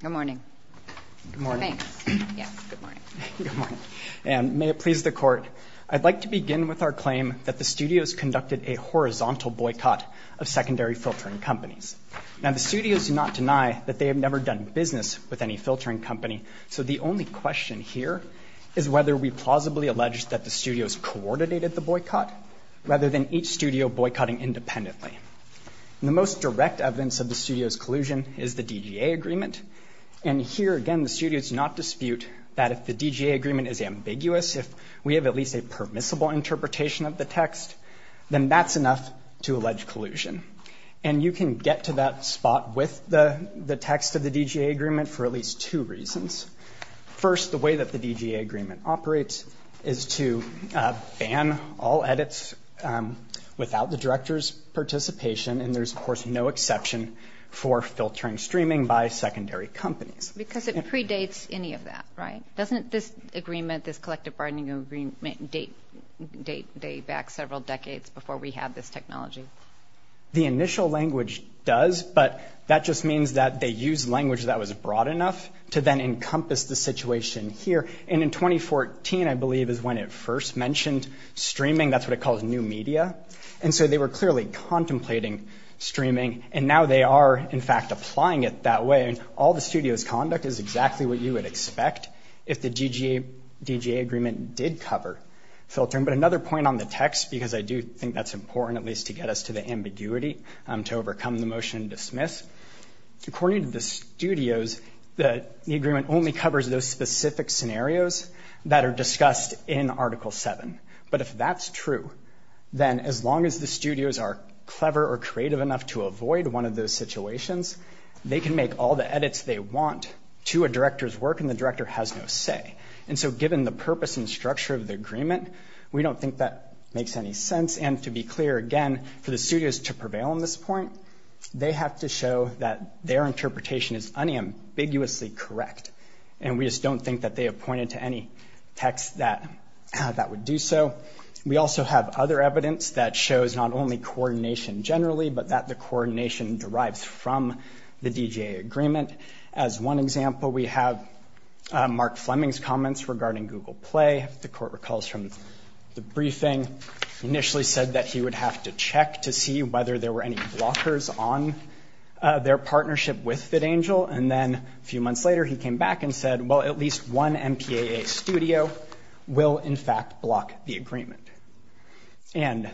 Good morning. Good morning. Thanks. Yeah, good morning. Good morning. And may it please the Court, I'd like to begin with our claim that the studios conducted a horizontal boycott of secondary filtering companies. Now, the studios do not deny that they have never done business with any filtering company, so the only question here is whether we plausibly allege that the studios coordinated the boycott rather than each studio boycotting independently. The most direct evidence of the studios' collusion is the DGA agreement. And here, again, the studios do not dispute that if the DGA agreement is ambiguous, if we have at least a permissible interpretation of the text, then that's enough to allege collusion. And you can get to that spot with the text of the DGA agreement for at least two reasons. First, the way that the DGA agreement operates is to ban all edits without the director's participation, and there's, of course, no exception for filtering streaming by secondary companies. Because it predates any of that, right? Doesn't this agreement, this collective bargaining agreement, date back several decades before we had this technology? The initial language does, but that just means that they used language that was broad enough to then encompass the situation here. And in 2014, I believe, is when it first mentioned streaming. That's what it calls new media. And so they were clearly contemplating streaming, and now they are, in fact, applying it that way. And all the studios' conduct is exactly what you would expect if the DGA agreement did cover filtering. But another point on the text, because I do think that's important, at least to get us to the ambiguity to overcome the motion to dismiss, according to the studios, the agreement only covers those specific scenarios that are discussed in Article 7. But if that's true, then as long as the studios are clever or creative enough to avoid one of those situations, they can make all the edits they want to a director's work, and the director has no say. And so given the purpose and structure of the agreement, we don't think that makes any sense. And to be clear, again, for the studios to prevail on this point, they have to show that their interpretation is unambiguously correct. And we just don't think that they have pointed to any text that that would do so. We also have other evidence that shows not only coordination generally, but that the coordination derives from the DGA agreement. As one example, we have Mark Fleming's comments regarding Google Play. The court recalls from the briefing, initially said that he would have to check to see whether there were any blockers on their partnership with FitAngel. And then a few months later, he came back and said, well, at least one MPAA studio will, in fact, block the agreement. And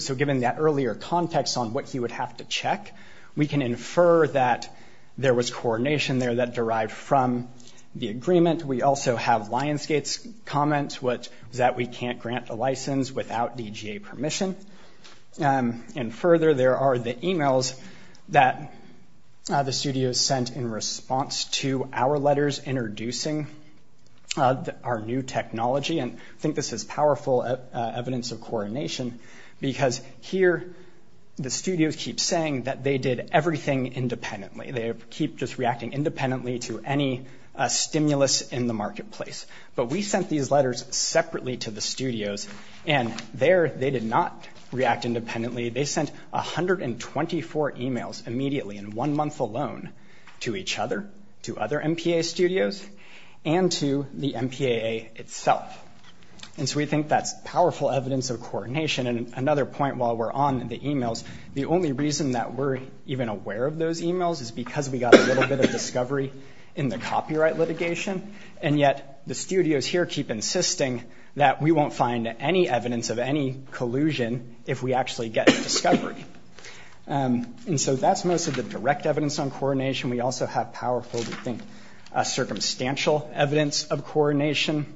so given that earlier context on what he would have to check, we can infer that there was coordination there that derived from the agreement. We also have Lionsgate's comments that we can't grant a license without DGA permission. And further, there are the e-mails that the studios sent in response to our letters introducing our new technology. And I think this is powerful evidence of coordination, because here the studios keep saying that they did everything independently. They keep just reacting independently to any stimulus in the marketplace. But we sent these letters separately to the studios, and there they did not react independently. They sent 124 e-mails immediately in one month alone to each other, to other MPAA studios, and to the MPAA itself. And so we think that's powerful evidence of coordination. And another point while we're on the e-mails, the only reason that we're even aware of those e-mails is because we got a little bit of discovery in the copyright litigation. And yet the studios here keep insisting that we won't find any evidence of any collusion if we actually get discovery. And so that's most of the direct evidence on coordination. We also have powerful, we think, circumstantial evidence of coordination.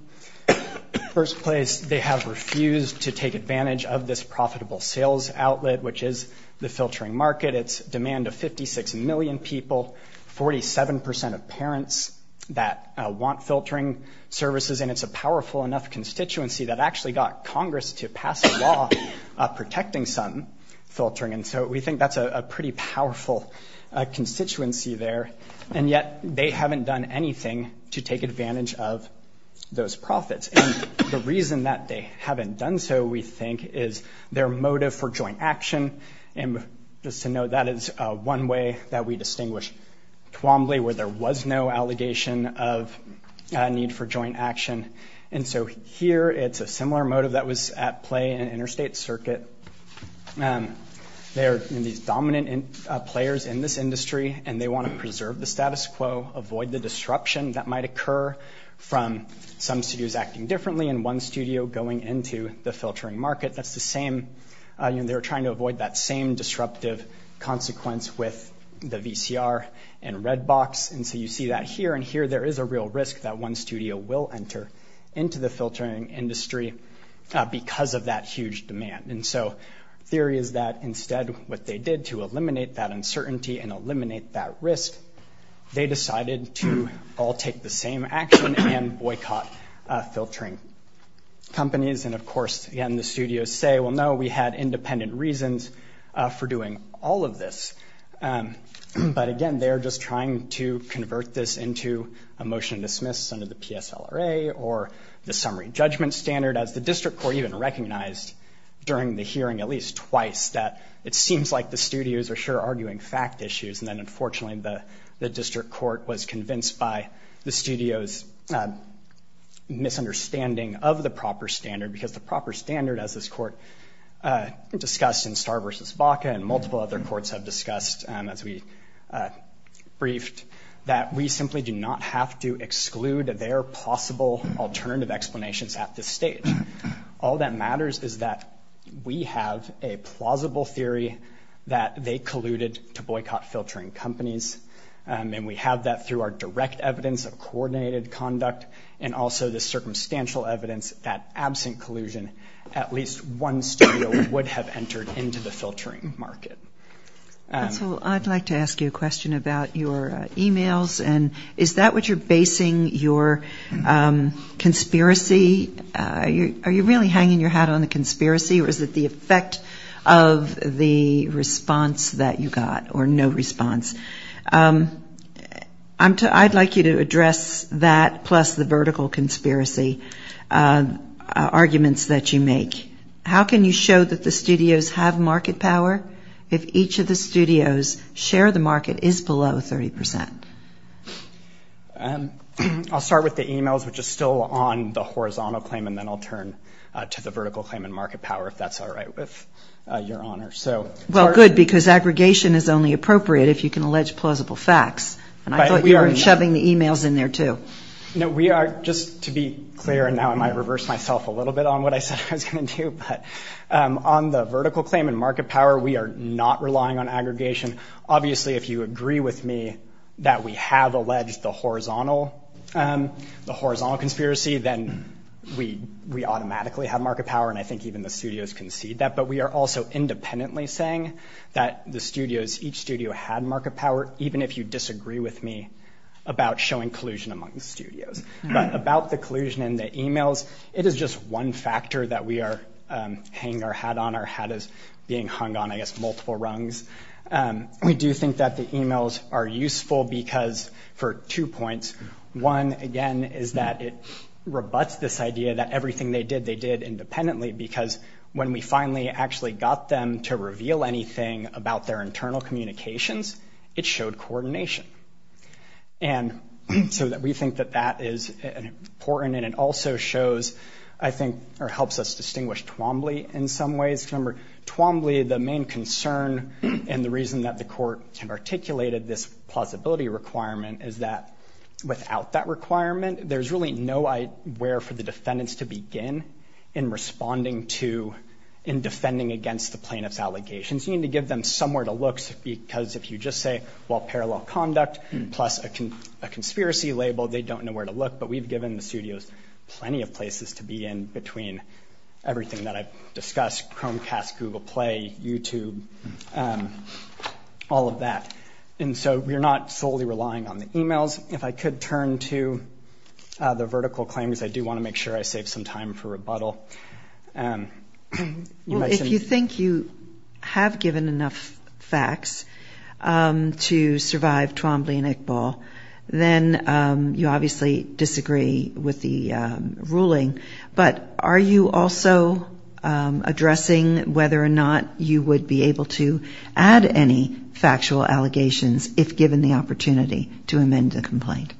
First place, they have refused to take advantage of this profitable sales outlet, which is the filtering market. It's demand of 56 million people, 47 percent of parents that want filtering services. And it's a powerful enough constituency that actually got Congress to pass a law protecting some filtering. And so we think that's a pretty powerful constituency there. And yet they haven't done anything to take advantage of those profits. And the reason that they haven't done so, we think, is their motive for joint action. And just to note, that is one way that we distinguish Twombly, where there was no allegation of need for joint action. And so here it's a similar motive that was at play in an interstate circuit. They are these dominant players in this industry, and they want to preserve the status quo, avoid the disruption that might occur from some studios acting differently and one studio going into the filtering market. That's the same. They're trying to avoid that same disruptive consequence with the VCR and Redbox. And so you see that here. And here there is a real risk that one studio will enter into the filtering industry because of that huge demand. And so theory is that instead what they did to eliminate that uncertainty and eliminate that risk, they decided to all take the same action and boycott filtering companies. And of course, again, the studios say, well, no, we had independent reasons for doing all of this. But again, they're just trying to convert this into a motion to dismiss under the PSLRA or the summary judgment standard, as the district court even recognized during the hearing at least twice that it seems like the studios are sure arguing fact issues. And then unfortunately, the district court was convinced by the studio's misunderstanding of the proper standard, because the proper standard, as this court discussed in Starr versus Baca and multiple other courts have discussed, as we briefed, that we simply do not have to exclude their possible alternative explanations at this stage. All that matters is that we have a plausible theory that they colluded to boycott filtering companies. And we have that through our direct evidence of coordinated conduct and also the circumstantial evidence that absent collusion, at least one studio would have entered into the filtering market. I'd like to ask you a question about your e-mails. And is that what you're basing your conspiracy? Are you really hanging your hat on the conspiracy or is it the effect of the response that you got or no response? I'd like you to address that plus the vertical conspiracy arguments that you make. How can you show that the studios have market power if each of the studios share the market is below 30 percent? I'll start with the e-mails, which is still on the horizontal claim, and then I'll turn to the vertical claim and market power if that's all right with Your Honor. Well, good, because aggregation is only appropriate if you can allege plausible facts. And I thought you were shoving the e-mails in there, too. No, we are just to be clear, and now I might reverse myself a little bit on what I said I was going to do. But on the vertical claim and market power, we are not relying on aggregation. Obviously, if you agree with me that we have alleged the horizontal conspiracy, then we automatically have market power. And I think even the studios concede that. But we are also independently saying that the studios, each studio had market power, even if you disagree with me about showing collusion among the studios. But about the collusion in the e-mails, it is just one factor that we are hanging our hat on. Our hat is being hung on, I guess, multiple rungs. We do think that the e-mails are useful because for two points. One, again, is that it rebuts this idea that everything they did, they did independently, because when we finally actually got them to reveal anything about their internal communications, it showed coordination. And so we think that that is important, and it also shows, I think, or helps us distinguish Twombly in some ways. Remember, Twombly, the main concern and the reason that the court articulated this plausibility requirement is that without that requirement, there's really no where for the defendants to begin in responding to, in defending against the plaintiff's allegations. You need to give them somewhere to look because if you just say, well, parallel conduct, plus a conspiracy label, they don't know where to look. But we've given the studios plenty of places to be in between everything that I've discussed, Chromecast, Google Play, YouTube, all of that. And so we're not solely relying on the e-mails. If I could turn to the vertical claims, I do want to make sure I save some time for rebuttal. Well, if you think you have given enough facts to survive Twombly and Iqbal, then you obviously disagree with the ruling. But are you also addressing whether or not you would be able to add any factual allegations if given the opportunity to amend the complaint?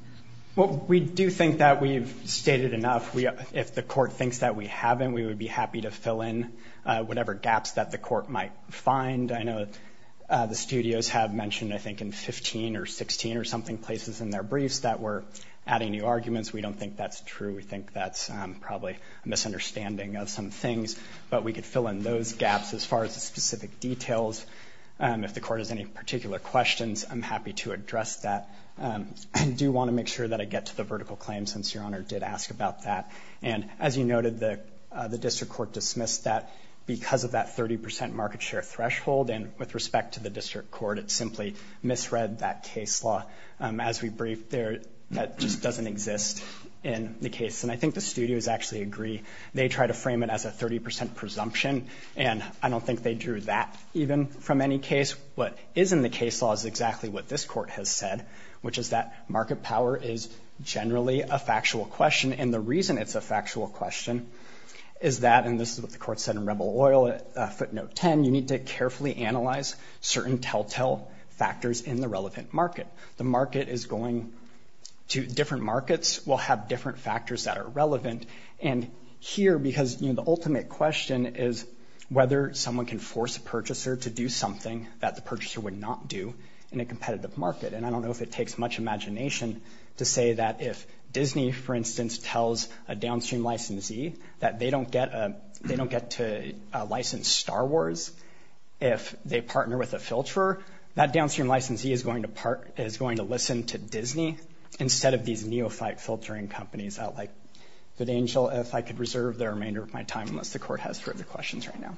Well, we do think that we've stated enough. If the court thinks that we haven't, we would be happy to fill in whatever gaps that the court might find. I know the studios have mentioned, I think, in 15 or 16 or something places in their briefs that we're adding new arguments. We don't think that's true. We think that's probably a misunderstanding of some things. But we could fill in those gaps as far as the specific details. If the court has any particular questions, I'm happy to address that. I do want to make sure that I get to the vertical claims since Your Honor did ask about that. And as you noted, the district court dismissed that because of that 30 percent market share threshold. And with respect to the district court, it simply misread that case law. As we briefed there, that just doesn't exist in the case. And I think the studios actually agree. They try to frame it as a 30 percent presumption. And I don't think they drew that even from any case. What is in the case law is exactly what this court has said, which is that market power is generally a factual question. And the reason it's a factual question is that, and this is what the court said in Rebel Oil footnote 10, you need to carefully analyze certain telltale factors in the relevant market. The market is going to different markets will have different factors that are relevant. And here, because the ultimate question is whether someone can force a purchaser to do something that the purchaser would not do in a competitive market. And I don't know if it takes much imagination to say that if Disney, for instance, tells a downstream licensee that they don't get they don't get to license Star Wars, if they partner with a filter, that downstream licensee is going to park, is going to listen to Disney instead of these neophyte filtering companies out like good angel. If I could reserve the remainder of my time, unless the court has further questions right now.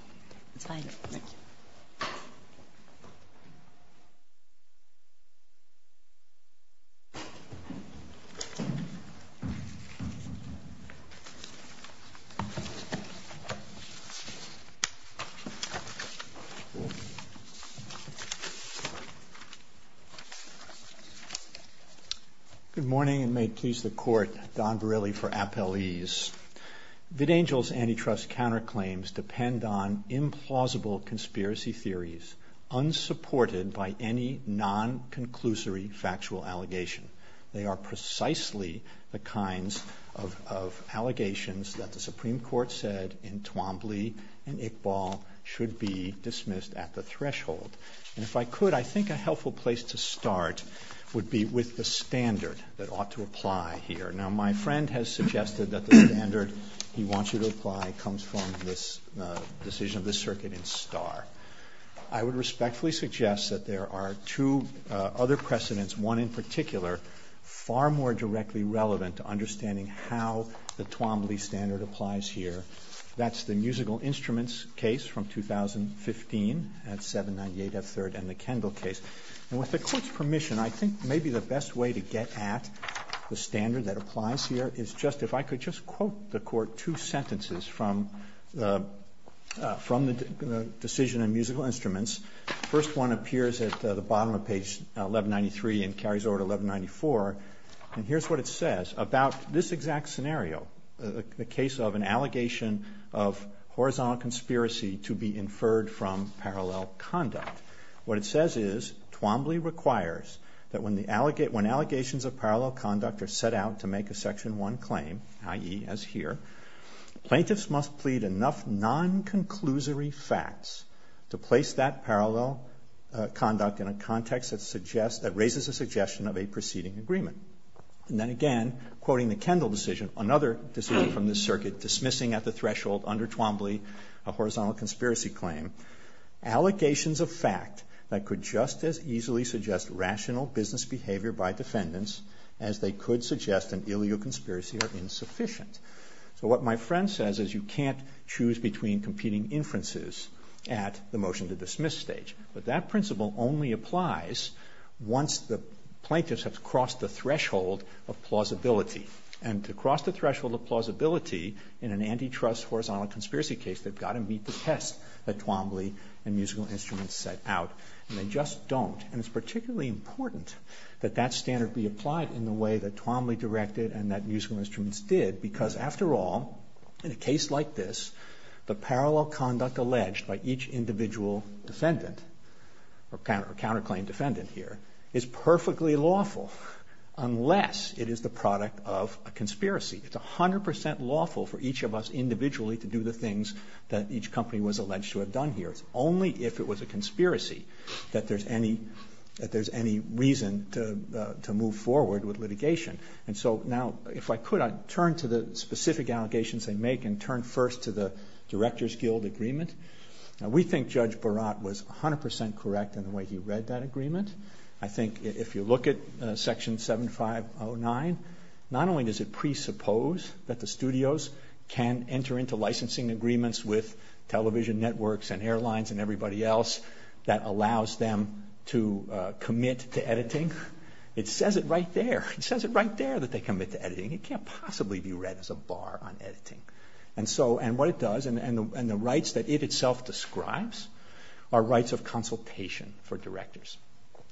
Good morning and may please the court. Don really for appellees. Good angels antitrust counterclaims depend on implausible conspiracy theories, unsupported by any non conclusory factual allegation. They are precisely the kinds of allegations that the Supreme Court said in Twombly and Iqbal should be dismissed at the threshold. And if I could, I think a helpful place to start would be with the standard that ought to apply here. Now, my friend has suggested that the standard he wants you to apply comes from this decision of the circuit in Star. I would respectfully suggest that there are two other precedents, one in particular, far more directly relevant to understanding how the Twombly standard applies here. That's the musical instruments case from 2015 at 798 F3rd and the Kendall case. And with the court's permission, I think maybe the best way to get at the standard that applies here is just, if I could just quote the court two sentences from the decision in musical instruments. First one appears at the bottom of page 1193 and carries over to 1194. And here's what it says about this exact scenario, the case of an allegation of horizontal conspiracy to be inferred from parallel conduct. What it says is Twombly requires that when allegations of parallel conduct are set out to make a section 1 claim, i.e. as here, plaintiffs must plead enough non-conclusory facts to place that parallel conduct in a context that raises a suggestion of a preceding agreement. And then again, quoting the Kendall decision, another decision from the circuit, dismissing at the threshold under Twombly a horizontal conspiracy claim, allegations of fact that could just as easily suggest rational business behavior by defendants as they could suggest an illegal conspiracy are insufficient. So what my friend says is you can't choose between competing inferences at the motion to dismiss stage. But that principle only applies once the plaintiffs have crossed the threshold of plausibility. And to cross the threshold of plausibility in an antitrust horizontal conspiracy case, they've got to meet the test that Twombly and musical instruments set out. And they just don't. And it's particularly important that that standard be applied in the way that Twombly directed and that musical instruments did because after all, in a case like this, the parallel conduct alleged by each individual defendant or counterclaim defendant here is perfectly lawful unless it is the product of a conspiracy. It's 100% lawful for each of us individually to do the things that each company was alleged to have done here. It's only if it was a conspiracy that there's any reason to move forward with litigation. And so now if I could, I'd turn to the specific allegations they make and turn first to the Director's Guild Agreement. We think Judge Barat was 100% correct in the way he read that agreement. I think if you look at Section 7509, not only does it presuppose that the studios can enter into licensing agreements with television networks and airlines and everybody else that allows them to commit to editing, it says it right there. It says it right there that they commit to editing. And what it does and the rights that it itself describes are rights of consultation for directors.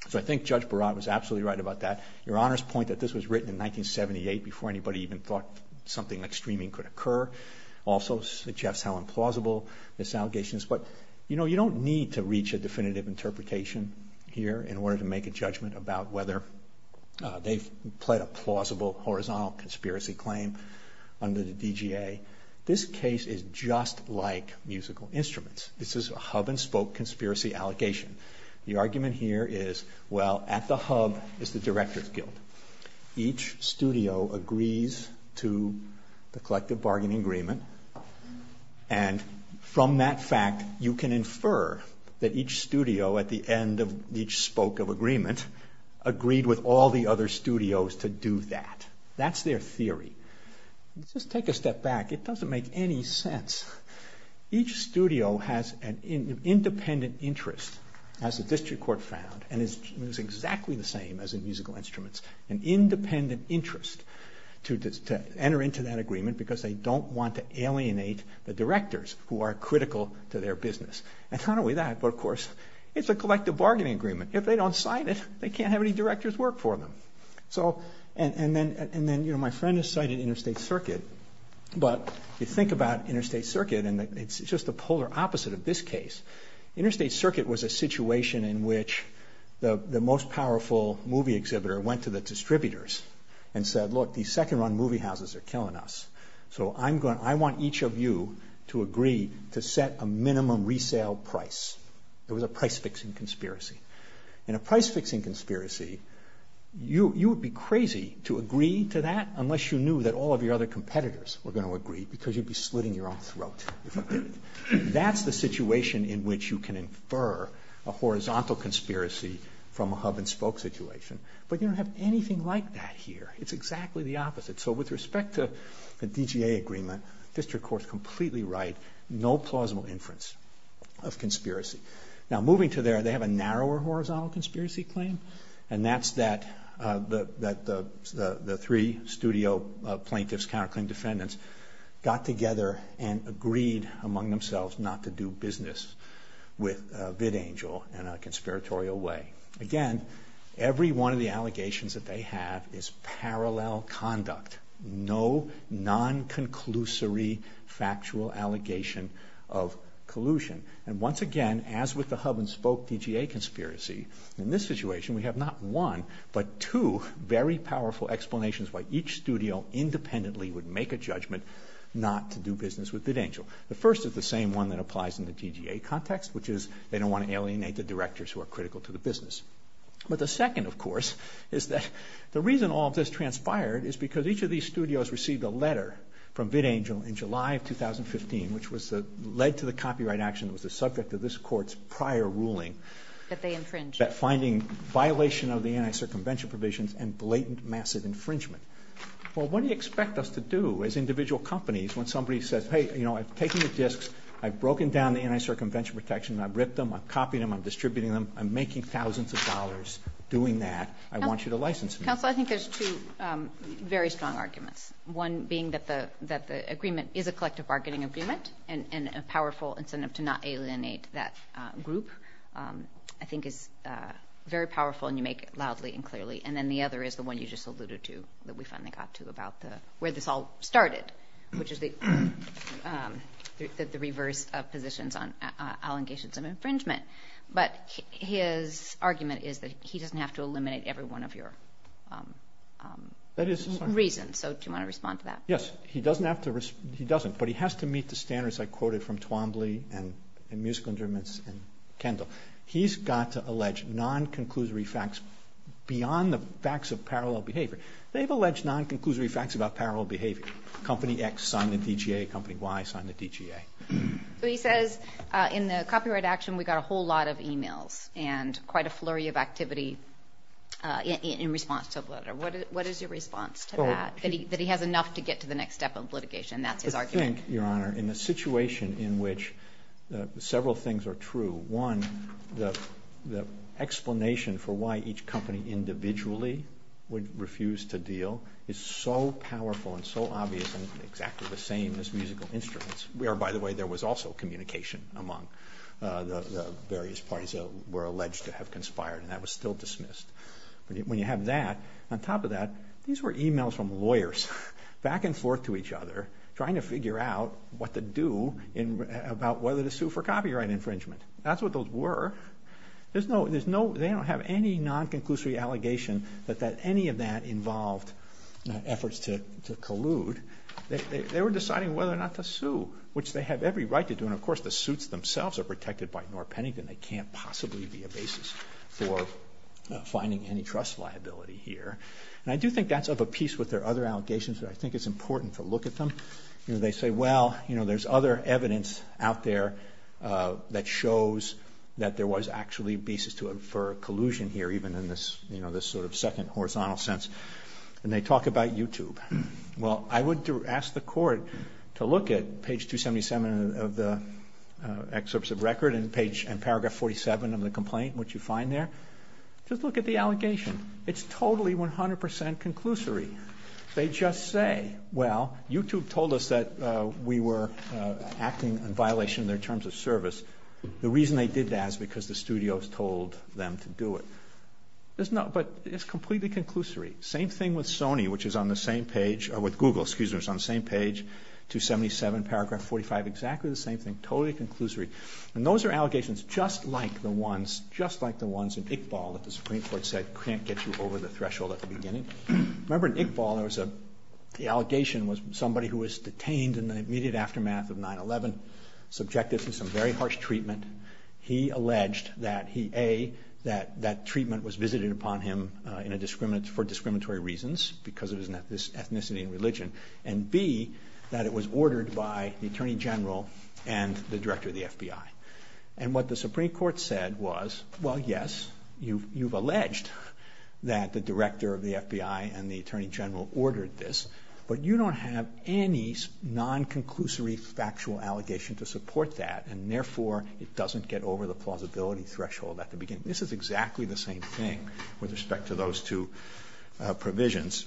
So I think Judge Barat was absolutely right about that. Your Honor's point that this was written in 1978 before anybody even thought something like streaming could occur also suggests how implausible this allegation is. But you don't need to reach a definitive interpretation here in order to make a judgment about whether they've pled a plausible horizontal conspiracy claim under the DGA. This case is just like musical instruments. This is a hub-and-spoke conspiracy allegation. The argument here is, well, at the hub is the Director's Guild. Each studio agrees to the collective bargaining agreement and from that fact you can infer that each studio at the end of each spoke of agreement agreed with all the other studios to do that. That's their theory. Let's just take a step back. It doesn't make any sense. Each studio has an independent interest, as the District Court found, and it's exactly the same as in musical instruments, an independent interest to enter into that agreement because they don't want to alienate the directors who are critical to their business. Not only that, but of course, it's a collective bargaining agreement. If they don't sign it, they can't have any directors work for them. My friend has cited Interstate Circuit, but you think about Interstate Circuit and it's just the polar opposite of this case. Interstate Circuit was a situation in which the most powerful movie exhibitor went to the distributors and said, Look, these second-run movie houses are killing us, so I want each of you to agree to set a minimum resale price. It was a price-fixing conspiracy. In a price-fixing conspiracy, you would be crazy to agree to that unless you knew that all of your other competitors were going to agree because you'd be slitting your own throat. That's the situation in which you can infer a horizontal conspiracy from a hub-and-spoke situation, but you don't have anything like that here. It's exactly the opposite. So with respect to the DGA agreement, the District Court is completely right. No plausible inference of conspiracy. Now, moving to there, they have a narrower horizontal conspiracy claim, and that's that the three studio plaintiffs, counterclaim defendants, got together and agreed among themselves not to do business with VidAngel in a conspiratorial way. Again, every one of the allegations that they have is parallel conduct. No non-conclusory factual allegation of collusion. And once again, as with the hub-and-spoke DGA conspiracy, in this situation we have not one, but two very powerful explanations why each studio independently would make a judgment not to do business with VidAngel. The first is the same one that applies in the DGA context, which is they don't want to alienate the directors who are critical to the business. But the second, of course, is that the reason all of this transpired is because each of these studios received a letter from VidAngel in July of 2015, which led to the copyright action that was the subject of this Court's prior ruling. That they infringed. That finding violation of the anti-circumvention provisions and blatant massive infringement. Well, what do you expect us to do as individual companies when somebody says, hey, you know, I've taken the disks, I've broken down the anti-circumvention protection, I've ripped them, I've copied them, I'm distributing them, I'm making thousands of dollars doing that, I want you to license me. Counsel, I think there's two very strong arguments, one being that the agreement is a collective bargaining agreement and a powerful incentive to not alienate that group, I think is very powerful and you make it loudly and clearly. And then the other is the one you just alluded to that we finally got to about where this all started, which is the reverse of positions on allegations of infringement. But his argument is that he doesn't have to eliminate every one of your reasons. So do you want to respond to that? Yes, he doesn't, but he has to meet the standards I quoted from Twombly and musical instruments and Kendall. He's got to allege non-conclusory facts beyond the facts of parallel behavior. They've alleged non-conclusory facts about parallel behavior. Company X signed the DGA, company Y signed the DGA. So he says in the copyright action we got a whole lot of emails and quite a flurry of activity in response to the letter. What is your response to that, that he has enough to get to the next step of litigation? That's his argument. I think, Your Honor, in a situation in which several things are true, one, the explanation for why each company individually would refuse to deal is so powerful and so obvious and exactly the same as musical instruments, where, by the way, there was also communication among the various parties that were alleged to have conspired, and that was still dismissed. When you have that, on top of that, these were emails from lawyers back and forth to each other trying to figure out what to do about whether to sue for copyright infringement. That's what those were. They don't have any non-conclusory allegation that any of that involved efforts to collude. They were deciding whether or not to sue, which they have every right to do, and, of course, the suits themselves are protected by Norr Pennington. They can't possibly be a basis for finding any trust liability here. And I do think that's of a piece with their other allegations that I think it's important to look at them. They say, well, there's other evidence out there that shows that there was actually a basis for collusion here, even in this sort of second horizontal sense. And they talk about YouTube. Well, I would ask the Court to look at page 277 of the excerpts of record and paragraph 47 of the complaint, which you find there. Just look at the allegation. It's totally 100% conclusory. They just say, well, YouTube told us that we were acting in violation of their terms of service. The reason they did that is because the studios told them to do it. But it's completely conclusory. Same thing with Google, which is on the same page, 277, paragraph 45, exactly the same thing, totally conclusory. And those are allegations just like the ones in Iqbal that the Supreme Court said can't get you over the threshold at the beginning. Remember in Iqbal, the allegation was somebody who was detained in the immediate aftermath of 9-11, subjected to some very harsh treatment. He alleged that, A, that treatment was visited upon him for discriminatory reasons because of his ethnicity and religion, and, B, that it was ordered by the Attorney General and the Director of the FBI. And what the Supreme Court said was, well, yes, you've alleged that the Director of the FBI and the Attorney General ordered this, but you don't have any non-conclusory factual allegation to support that, and therefore it doesn't get over the plausibility threshold at the beginning. This is exactly the same thing with respect to those two provisions.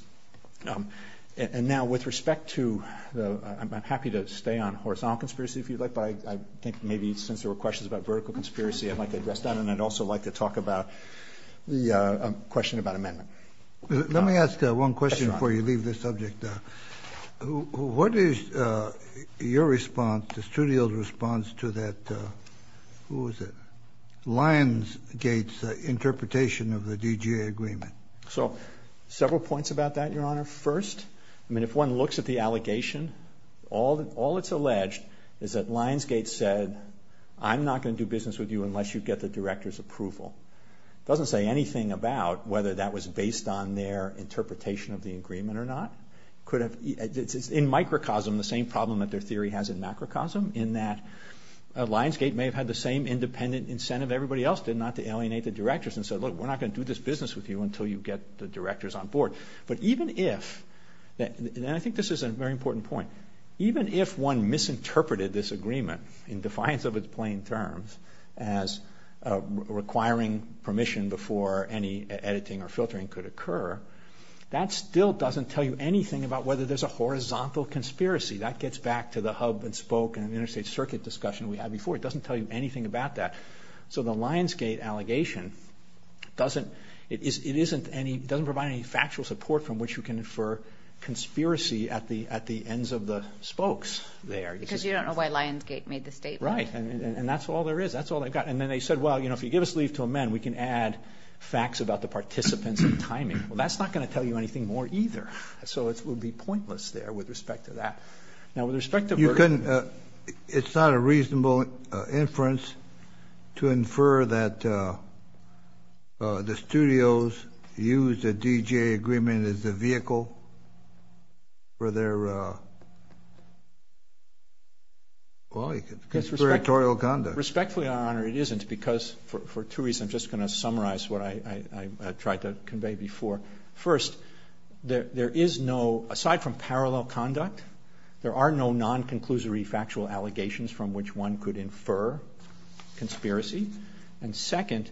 And now with respect to the—I'm happy to stay on horizontal conspiracy if you'd like, but I think maybe since there were questions about vertical conspiracy, I'd like to address that, and I'd also like to talk about the question about amendment. Let me ask one question before you leave this subject. What is your response, the studio's response, to that—who was it?— Lionsgate's interpretation of the DGA agreement? So several points about that, Your Honor. First, I mean, if one looks at the allegation, all that's alleged is that Lionsgate said, I'm not going to do business with you unless you get the Director's approval. It doesn't say anything about whether that was based on their interpretation of the agreement or not. It's in microcosm the same problem that their theory has in macrocosm, in that Lionsgate may have had the same independent incentive everybody else did, not to alienate the Directors and say, look, we're not going to do this business with you until you get the Directors on board. But even if—and I think this is a very important point— even if one misinterpreted this agreement in defiance of its plain terms as requiring permission before any editing or filtering could occur, that still doesn't tell you anything about whether there's a horizontal conspiracy. That gets back to the hub and spoke and interstate circuit discussion we had before. It doesn't tell you anything about that. So the Lionsgate allegation doesn't provide any factual support from which you can infer conspiracy at the ends of the spokes there. Because you don't know why Lionsgate made the statement. Right, and that's all there is. That's all they've got. And then they said, well, if you give us leave to amend, we can add facts about the participants and timing. Well, that's not going to tell you anything more either. So it would be pointless there with respect to that. It's not a reasonable inference to infer that the studios used a DGA agreement as a vehicle for their conspiratorial conduct. Respectfully, Your Honor, it isn't because for two reasons. I'm just going to summarize what I tried to convey before. First, there is no, aside from parallel conduct, there are no non-conclusory factual allegations from which one could infer conspiracy. And second,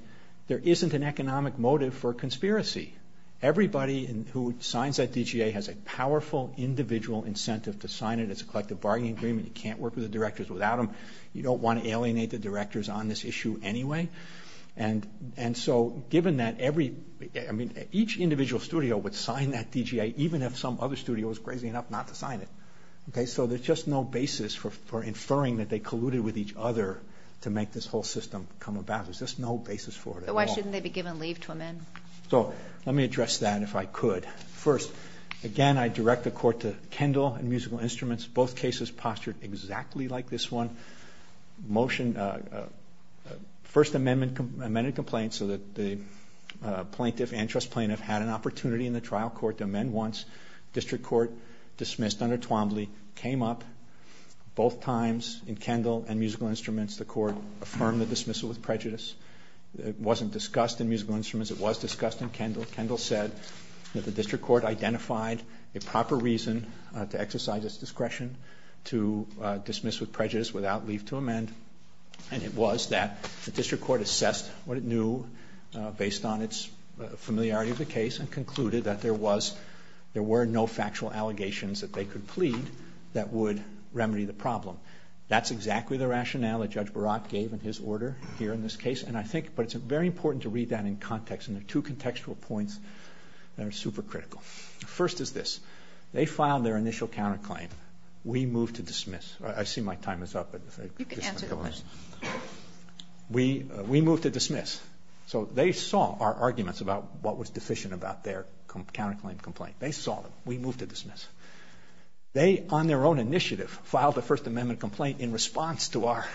there isn't an economic motive for conspiracy. Everybody who signs that DGA has a powerful individual incentive to sign it. It's a collective bargaining agreement. You can't work with the directors without them. You don't want to alienate the directors on this issue anyway. And so given that every, I mean, each individual studio would sign that DGA even if some other studio was crazy enough not to sign it. So there's just no basis for inferring that they colluded with each other to make this whole system come about. There's just no basis for it at all. But why shouldn't they be given leave to amend? So let me address that if I could. First, again, I direct the Court to Kendall and musical instruments. Both cases postured exactly like this one. Motion, first amendment, amended complaint so that the plaintiff and trust plaintiff had an opportunity in the trial court to amend once. District court dismissed under Twombly, came up both times in Kendall and musical instruments. The Court affirmed the dismissal with prejudice. It wasn't discussed in musical instruments. It was discussed in Kendall. Kendall said that the district court identified a proper reason to exercise its discretion to dismiss with prejudice without leave to amend. And it was that the district court assessed what it knew based on its familiarity of the case and concluded that there were no factual allegations that they could plead that would remedy the problem. That's exactly the rationale that Judge Barat gave in his order here in this case. And I think it's very important to read that in context. And there are two contextual points that are super critical. First is this. They filed their initial counterclaim. We moved to dismiss. I see my time is up. You can answer the question. We moved to dismiss. So they saw our arguments about what was deficient about their counterclaim complaint. They saw them. We moved to dismiss. They, on their own initiative, filed a first amendment complaint in response to our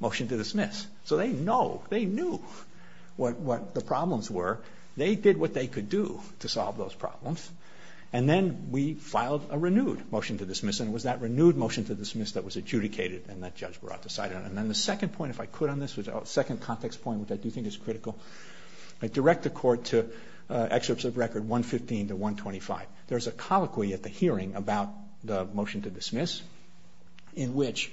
motion to dismiss. So they know, they knew what the problems were. They did what they could do to solve those problems. And then we filed a renewed motion to dismiss, and it was that renewed motion to dismiss that was adjudicated and that Judge Barat decided on. And then the second point, if I could on this, the second context point which I do think is critical, direct the court to excerpts of record 115 to 125. There's a colloquy at the hearing about the motion to dismiss in which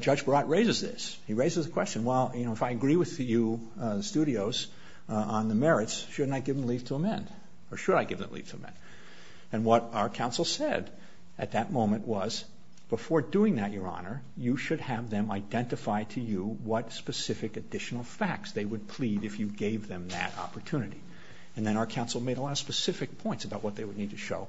Judge Barat raises this. He raises the question, well, you know, if I agree with you, studios, on the merits, shouldn't I give them leave to amend? Or should I give them leave to amend? And what our counsel said at that moment was, before doing that, Your Honor, you should have them identify to you what specific additional facts they would plead if you gave them that opportunity. And then our counsel made a lot of specific points about what they would need to show.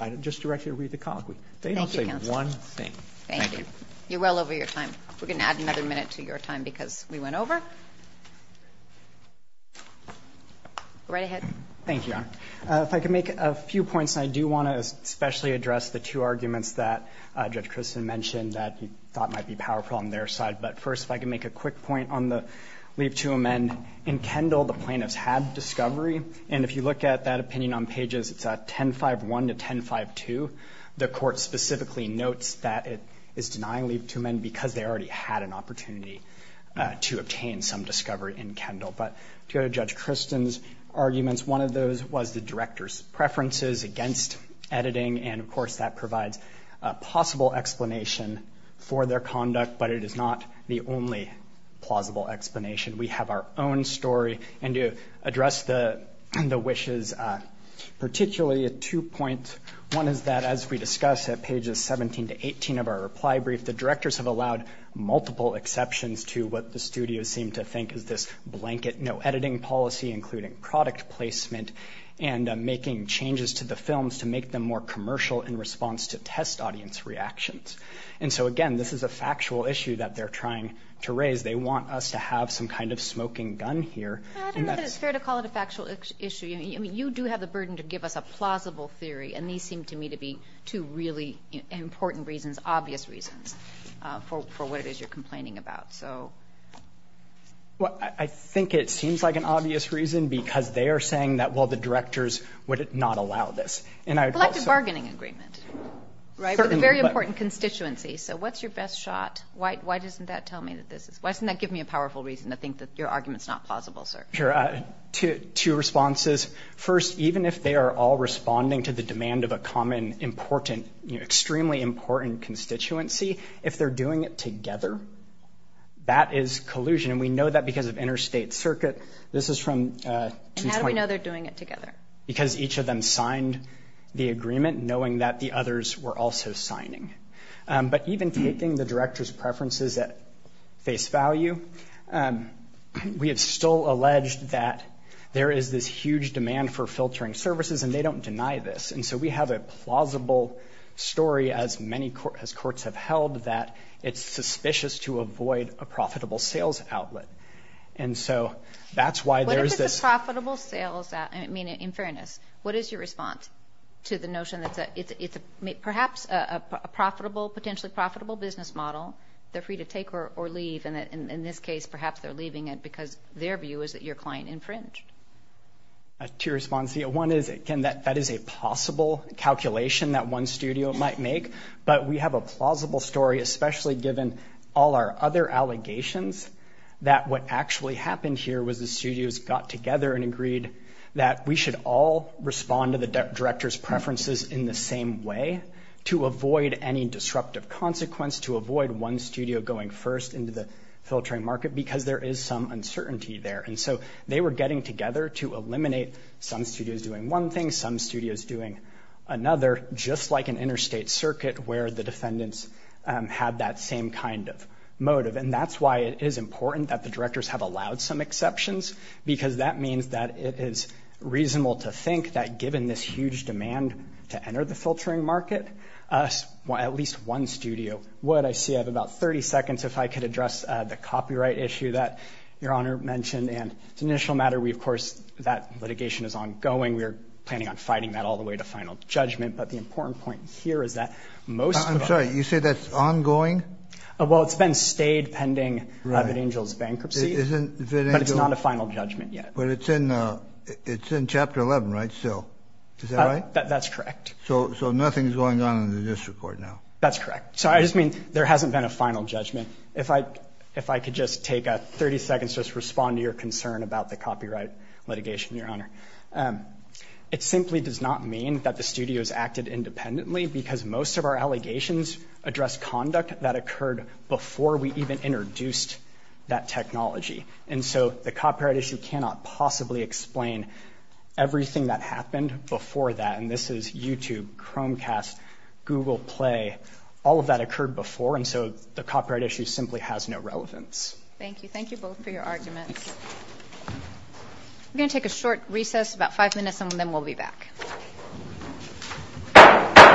I just direct you to read the colloquy. They didn't say one thing. Thank you, counsel. Thank you. You're well over your time. We're going to add another minute to your time because we went over. Right ahead. Thank you, Your Honor. If I could make a few points. And I do want to especially address the two arguments that Judge Christin mentioned that you thought might be powerful on their side. But first, if I could make a quick point on the leave to amend. In Kendall, the plaintiffs had discovery. And if you look at that opinion on pages 1051 to 1052, the court specifically notes that it is denying leave to amend because they already had an opportunity to obtain some discovery in Kendall. But to go to Judge Christin's arguments, one of those was the director's preferences against editing. And, of course, that provides a possible explanation for their conduct, but it is not the only plausible explanation. We have our own story. And to address the wishes, particularly a two-point one is that, as we discussed at pages 17 to 18 of our reply brief, the directors have allowed multiple exceptions to what the studios seem to think is this blanket no editing policy, including product placement, and making changes to the films to make them more commercial in response to test audience reactions. And so, again, this is a factual issue that they're trying to raise. They want us to have some kind of smoking gun here. I don't know that it's fair to call it a factual issue. I mean, you do have the burden to give us a plausible theory, and these seem to me to be two really important reasons, obvious reasons for what it is you're complaining about. Well, I think it seems like an obvious reason because they are saying that, well, the directors would not allow this. Collective bargaining agreement, right? With a very important constituency. So what's your best shot? Why doesn't that give me a powerful reason to think that your argument is not plausible, sir? Two responses. First, even if they are all responding to the demand of a common, important, extremely important constituency, if they're doing it together, that is collusion. And we know that because of interstate circuit. How do we know they're doing it together? Because each of them signed the agreement knowing that the others were also signing. But even taking the director's preferences at face value, we have still alleged that there is this huge demand for filtering services, and they don't deny this. And so we have a plausible story, as courts have held, that it's suspicious to avoid a profitable sales outlet. And so that's why there's this – What if it's a profitable sales outlet? I mean, in fairness, what is your response to the notion that it's perhaps a potentially profitable business model they're free to take or leave, and in this case, perhaps they're leaving it because their view is that your client infringed? Two responses. One is, again, that is a possible calculation that one studio might make. But we have a plausible story, especially given all our other allegations, that what actually happened here was the studios got together and agreed that we should all respond to the director's preferences in the same way to avoid any disruptive consequence, to avoid one studio going first into the filtering market because there is some uncertainty there. And so they were getting together to eliminate some studios doing one thing, some studios doing another, just like an interstate circuit where the defendants had that same kind of motive. And that's why it is important that the directors have allowed some exceptions, because that means that it is reasonable to think that given this huge demand to enter the filtering market, at least one studio would. I see I have about 30 seconds if I could address the copyright issue that Your Honor mentioned. And it's an initial matter. We, of course, that litigation is ongoing. We are planning on fighting that all the way to final judgment. But the important point here is that most of the – I'm sorry. You say that's ongoing? Well, it's been stayed pending Vittingel's bankruptcy. But it's not a final judgment yet. But it's in Chapter 11, right, still? Is that right? That's correct. So nothing is going on in the district court now? That's correct. So I just mean there hasn't been a final judgment. If I could just take 30 seconds to respond to your concern about the copyright litigation, Your Honor. It simply does not mean that the studios acted independently because most of our allegations address conduct that occurred before we even introduced that technology. And so the copyright issue cannot possibly explain everything that happened before that. And this is YouTube, Chromecast, Google Play, all of that occurred before. And so the copyright issue simply has no relevance. Thank you. Thank you both for your arguments. We're going to take a short recess, about five minutes, and then we'll be back.